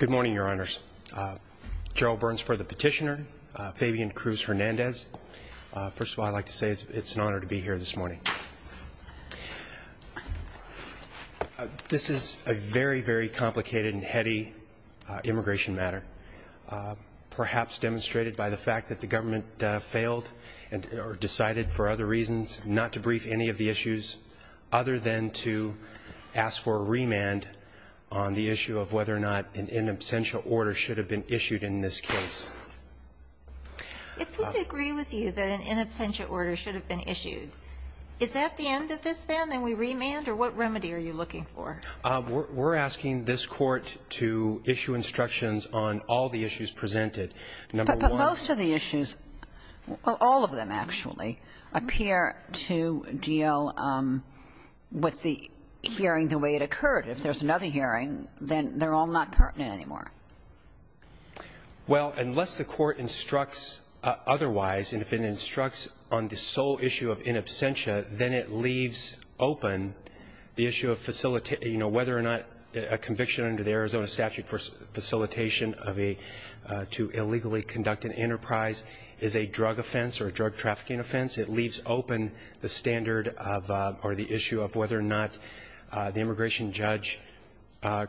Good morning, your honors. Gerald Burns for the petitioner, Fabian Cruz-Hernandez. First of all, I'd like to say it's an honor to be here this morning. This is a very, very complicated and heady immigration matter, perhaps demonstrated by the fact that the government failed or decided for other reasons not to brief any of the issues other than to ask for a remand on the issue of whether or not an in absentia order should have been issued in this case. If we agree with you that an in absentia order should have been issued, is that the end of this then? Then we remand? Or what remedy are you looking for? We're asking this Court to issue instructions on all the issues presented. Number one But most of the issues, all of them actually, appear to deal with the hearing the way it occurred. If there's another hearing, then they're all not pertinent anymore. Well, unless the Court instructs otherwise, and if it instructs on the sole issue of in absentia, then it leaves open the issue of whether or not a conviction under the Arizona statute for facilitation to illegally conduct an enterprise is a drug offense or a drug trafficking offense. It leaves open the standard of or the issue of whether or not the immigration judge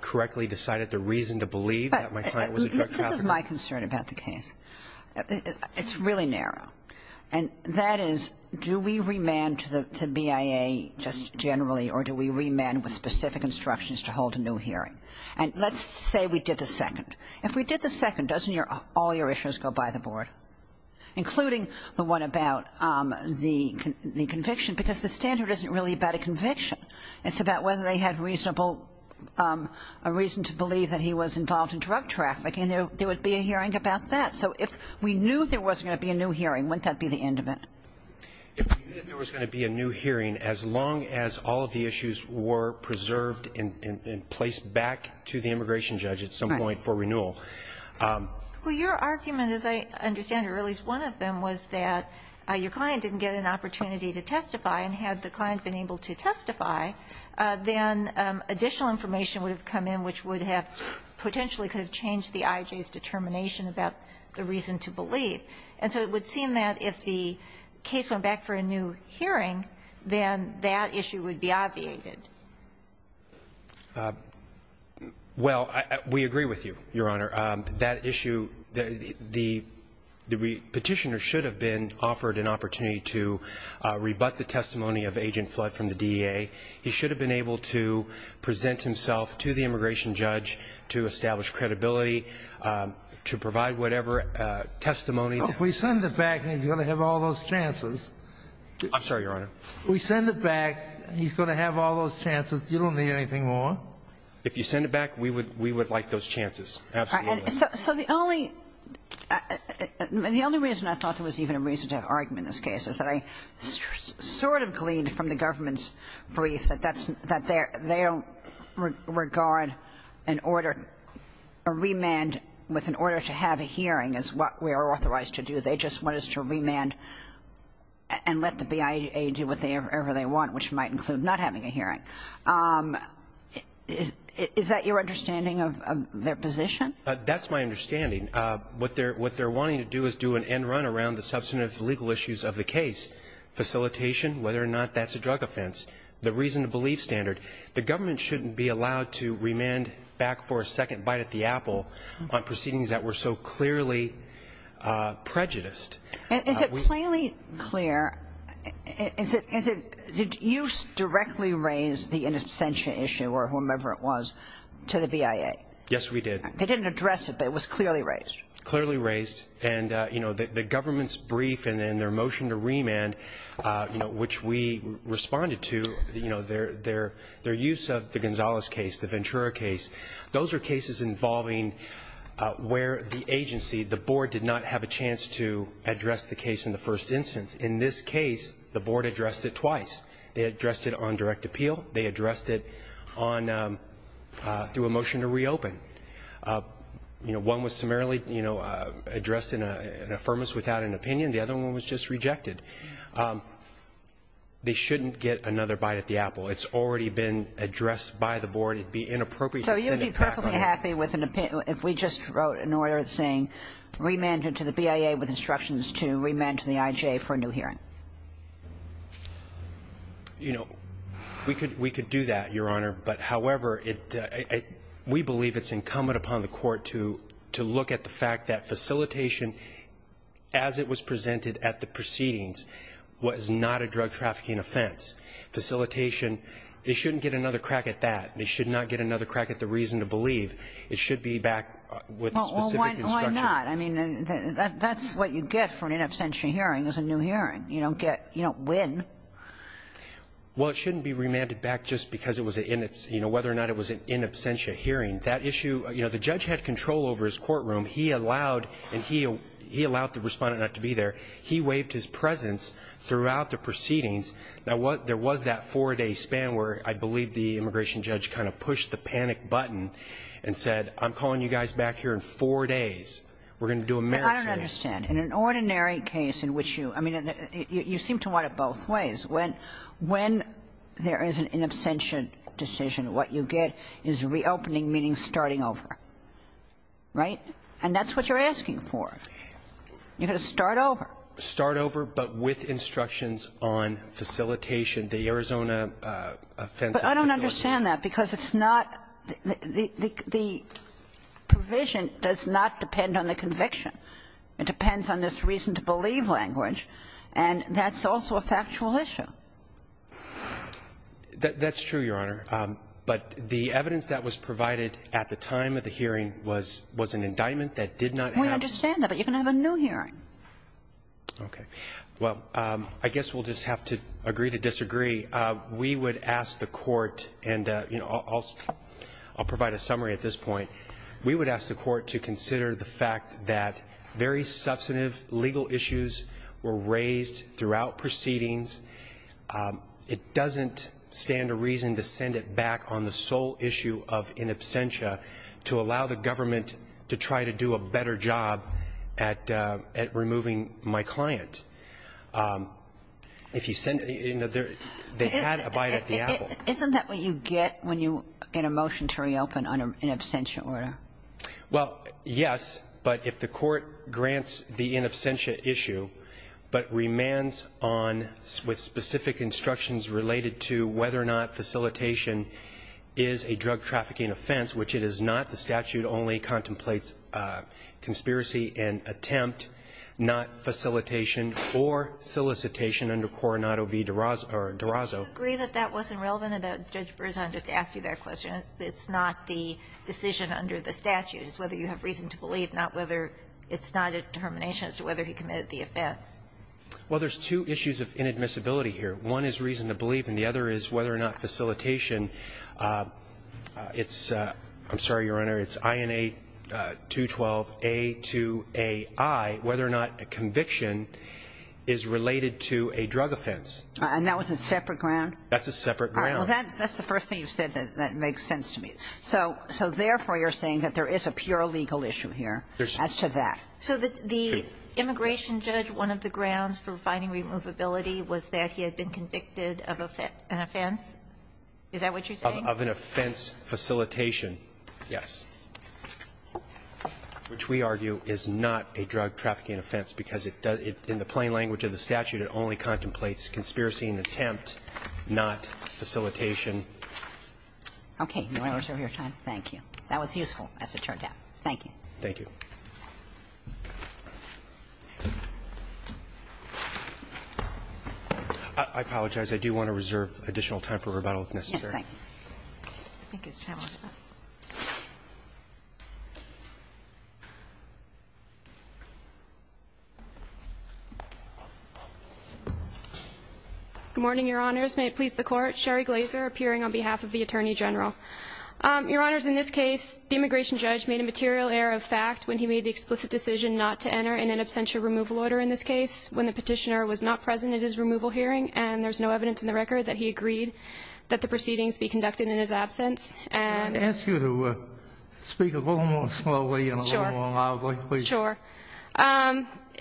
correctly decided the reason to believe that my client was a drug trafficker. This is my concern about the case. It's really narrow. And that is, do we remand to BIA just generally, or do we remand with specific instructions to hold a new hearing? And let's say we did the second. If we did the second, doesn't all your issues go by the board, including the one about the conviction? Because the standard isn't really about a conviction. It's about whether they had reasonable reason to believe that he was involved in drug traffic, and there would be a hearing about that. So if we knew there was going to be a new hearing, wouldn't that be the end of it? If we knew there was going to be a new hearing, as long as all of the issues were preserved and placed back to the immigration judge at some point for renewal. Well, your argument, as I understand it, or at least one of them, was that your client didn't get an opportunity to testify. And had the client been able to testify, then additional information would have come in which would have potentially could have changed the IJ's determination about the reason to believe. And so it would seem that if the case went back for a new hearing, then that issue would be obviated. Well, we agree with you, Your Honor. That issue, the Petitioner should have been offered an opportunity to rebut the testimony of Agent Flood from the DEA. He should have been able to present himself to the immigration judge to establish credibility, to provide whatever testimony. Well, if we send it back, he's going to have all those chances. I'm sorry, Your Honor. If we send it back, he's going to have all those chances. You don't need anything more. If you send it back, we would like those chances. Absolutely. So the only reason I thought there was even a reason to argue in this case is that I sort of gleaned from the government's brief that they don't regard an order, a remand with an order to have a hearing is what we are authorized to do. They just want us to remand and let the BIA do whatever they want, which might include not having a hearing. Is that your understanding of their position? That's my understanding. What they're wanting to do is do an end run around the substantive legal issues of the case, facilitation, whether or not that's a drug offense, the reason to believe standard. The government shouldn't be allowed to remand back for a second bite at the apple on prejudiced. Is it plainly clear? Did you directly raise the in absentia issue or whomever it was to the BIA? Yes, we did. They didn't address it, but it was clearly raised. Clearly raised. And, you know, the government's brief and then their motion to remand, you know, which we responded to, you know, their use of the Gonzalez case, the Ventura case, those are cases involving where the agency, the board did not have a chance to address the case in the first instance. In this case, the board addressed it twice. They addressed it on direct appeal. They addressed it on through a motion to reopen. You know, one was summarily, you know, addressed in an affirmance without an opinion. The other one was just rejected. They shouldn't get another bite at the apple. It's already been addressed by the board. It would be inappropriate. So you would be perfectly happy if we just wrote an order saying remand to the BIA with instructions to remand to the IJ for a new hearing? You know, we could do that, Your Honor. But, however, we believe it's incumbent upon the court to look at the fact that facilitation as it was presented at the proceedings was not a drug trafficking offense. Facilitation, they shouldn't get another crack at that. They should not get another crack at the reason to believe. It should be back with specific instructions. Well, why not? I mean, that's what you get for an in absentia hearing is a new hearing. You don't get – you don't win. Well, it shouldn't be remanded back just because it was an in – you know, whether or not it was an in absentia hearing. That issue – you know, the judge had control over his courtroom. He allowed – and he allowed the Respondent not to be there. He waived his presence throughout the proceedings. Now, there was that four-day span where I believe the immigration judge kind of pushed the panic button and said, I'm calling you guys back here in four days. We're going to do a merits hearing. But I don't understand. In an ordinary case in which you – I mean, you seem to want it both ways. When there is an in absentia decision, what you get is reopening, meaning starting over. Right? And that's what you're asking for. You're going to start over. Start over, but with instructions on facilitation, the Arizona offense of facilitation. But I don't understand that, because it's not – the provision does not depend on the conviction. It depends on this reason-to-believe language. And that's also a factual issue. That's true, Your Honor. But the evidence that was provided at the time of the hearing was an indictment that did not have a – We understand that. But you can have a new hearing. Okay. Well, I guess we'll just have to agree to disagree. We would ask the Court – and, you know, I'll provide a summary at this point. We would ask the Court to consider the fact that very substantive legal issues were raised throughout proceedings. It doesn't stand to reason to send it back on the sole issue of in absentia to allow the government to try to do a better job at removing my client. If you send – you know, they had a bite at the apple. Isn't that what you get when you get a motion to reopen on an in absentia order? Well, yes, but if the Court grants the in absentia issue but remands on – with specific instructions related to whether or not facilitation is a drug trafficking offense, which it is not. The statute only contemplates conspiracy and attempt, not facilitation or solicitation under Coronado v. DeRazzo. Do you agree that that wasn't relevant? Judge Berzon just asked you that question. It's not the decision under the statute. It's whether you have reason to believe, not whether it's not a determination as to whether he committed the offense. Well, there's two issues of inadmissibility here. One is reason to believe, and the other is whether or not facilitation – it's – I'm sorry, Your Honor. It's INA 212A2AI, whether or not a conviction is related to a drug offense. And that was a separate ground? That's a separate ground. All right. Well, that's the first thing you said that makes sense to me. So therefore, you're saying that there is a pure legal issue here as to that. So the immigration judge, one of the grounds for finding removability was that he had been convicted of an offense? Is that what you're saying? Of an offense facilitation. Yes. Which we argue is not a drug trafficking offense, because it does – in the plain language of the statute, it only contemplates conspiracy and attempt, not facilitation. Okay. Do I reserve your time? Thank you. That was useful as it turned out. Thank you. Thank you. I apologize. I do want to reserve additional time for rebuttal if necessary. Yes. I think it's time. Good morning, Your Honors. May it please the Court. Sherry Glazer appearing on behalf of the Attorney General. Your Honors, in this case, the immigration judge made a material error of fact when he made the explicit decision not to enter an in absentia removal order in this case, when the petitioner was not present at his removal hearing, and there's no evidence in the record that he agreed that the proceedings be conducted in his absence. May I ask you to speak a little more slowly and a little more loudly, please? Sure.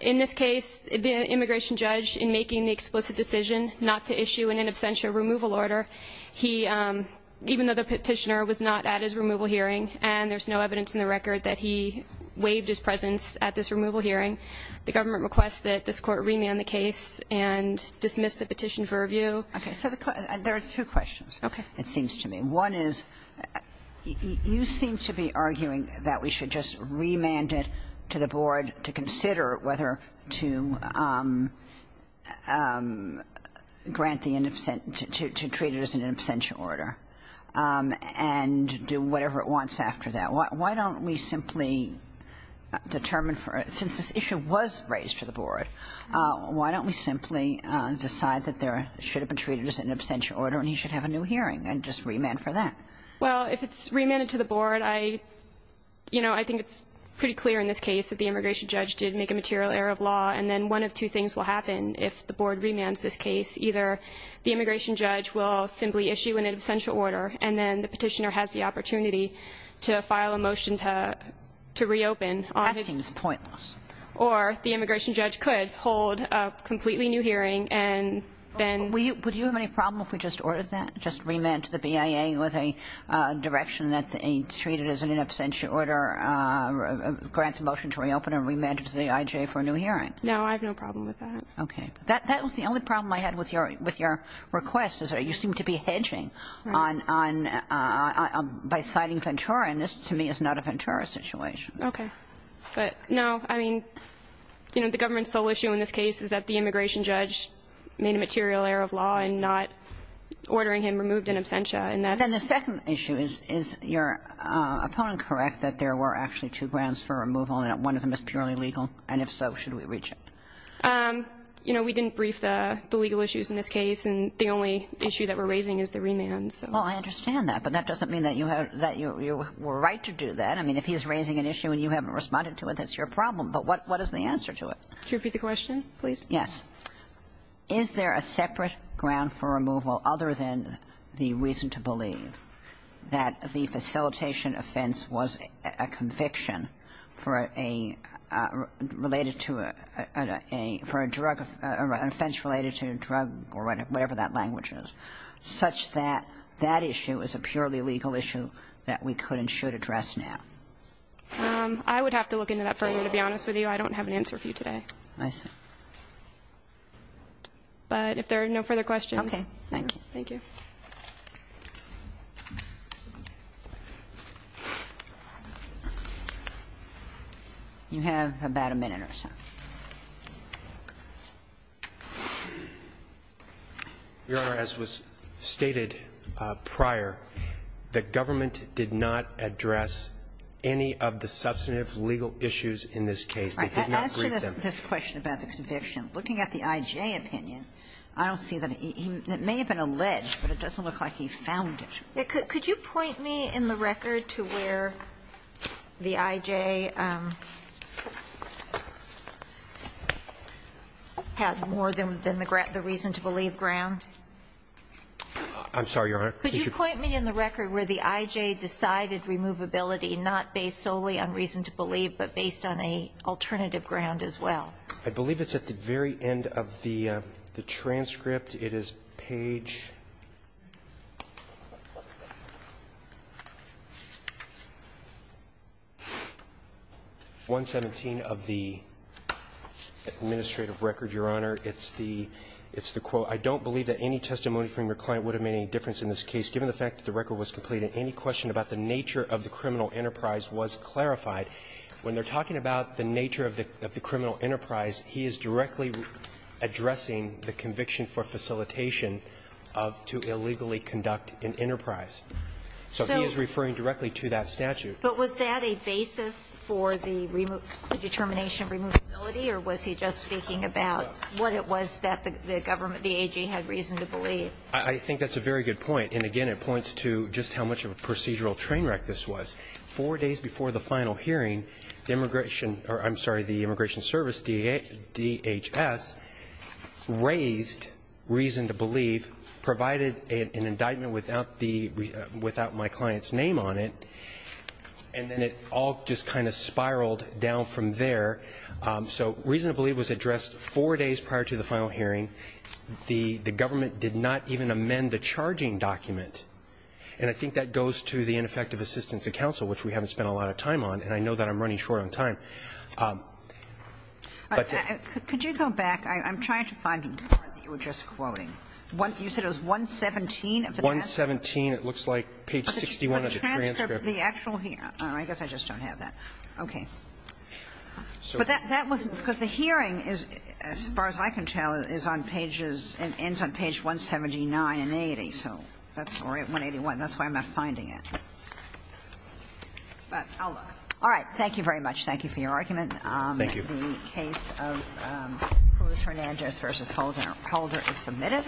In this case, the immigration judge, in making the explicit decision not to issue an in absentia removal order, he, even though the petitioner was not at his removal hearing and there's no evidence in the record that he waived his presence at this removal hearing, the government requests that this Court remand the case and dismiss the petition for review. Okay. So there are two questions, it seems to me. One is, you seem to be arguing that we should just remand it to the Board to consider whether to grant the in absentia, to treat it as an in absentia order and do whatever it wants after that. Why don't we simply determine for, since this issue was raised to the Board, why don't we simply decide that there should have been treated as an in absentia order and he should have a new hearing and just remand for that? Well, if it's remanded to the Board, I, you know, I think it's pretty clear in this case that the immigration judge did make a material error of law and then one of two things will happen if the Board remands this case. Either the immigration judge will simply issue an in absentia order and then the petitioner has the opportunity to file a motion to, to reopen on his. That seems pointless. Or the immigration judge could hold a completely new hearing and then. Would you have any problem if we just ordered that, just remand to the BIA with a direction that he's treated as an in absentia order, grants a motion to reopen and remand to the IJ for a new hearing? No, I have no problem with that. Okay. That, that was the only problem I had with your, with your request is that you seem to be hedging on, on, by citing Ventura and this to me is not a Ventura situation. Okay. But no, I mean, you know, the government's sole issue in this case is that the immigration judge made a material error of law in not ordering him removed in absentia and that's. And then the second issue is, is your opponent correct that there were actually two grounds for removal and that one of them is purely legal? And if so, should we reach it? You know, we didn't brief the legal issues in this case and the only issue that we're raising is the remand. Well, I understand that, but that doesn't mean that you have, that you were right to do that. I mean, if he's raising an issue and you haven't responded to it, that's your problem. But what, what is the answer to it? Could you repeat the question, please? Yes. Is there a separate ground for removal other than the reason to believe that the facilitation offense was a conviction for a related to a, for a drug, offense related to a drug or whatever that language is, such that that issue is a purely legal issue that we could and should address now? I would have to look into that further, to be honest with you. I don't have an answer for you today. I see. But if there are no further questions. Okay. Thank you. Thank you. You have about a minute or so. Your Honor, as was stated prior, the government did not address any of the substantive legal issues in this case. They did not brief them. I just want to read this question about the conviction. Looking at the I.J. opinion, I don't see that it may have been alleged, but it doesn't look like he found it. Could you point me in the record to where the I.J. had more than the reason to believe ground? I'm sorry, Your Honor. Could you point me in the record where the I.J. decided removability not based solely on reason to believe, but based on an alternative ground as well? I believe it's at the very end of the transcript. It is page 117 of the administrative record, Your Honor. It's the quote, I don't believe that any testimony from your client would have made any difference in this case, given the fact that the record was complete and any question about the nature of the criminal enterprise was clarified. When they're talking about the nature of the criminal enterprise, he is directly addressing the conviction for facilitation to illegally conduct an enterprise. So he is referring directly to that statute. But was that a basis for the determination of removability, or was he just speaking about what it was that the government, the AG, had reason to believe? I think that's a very good point. And, again, it points to just how much of a procedural train wreck this was. Four days before the final hearing, the immigration or, I'm sorry, the Immigration Service, DHS, raised reason to believe, provided an indictment without the, without my client's name on it, and then it all just kind of spiraled down from there. So reason to believe was addressed four days prior to the final hearing. The government did not even amend the charging document. And I think that goes to the ineffective assistance of counsel, which we haven't spent a lot of time on. And I know that I'm running short on time. But the ---- Could you go back? I'm trying to find the part that you were just quoting. You said it was 117 of the transcript. 117. It looks like page 61 of the transcript. The transcript of the actual hearing. I guess I just don't have that. Okay. But that wasn't ---- because the hearing is, as far as I can tell, is on pages ---- ends on page 179 and 80. So that's 181. That's why I'm not finding it. But I'll look. All right. Thank you very much. Thank you for your argument. Thank you. The case of Cruz-Hernandez v. Holder is submitted.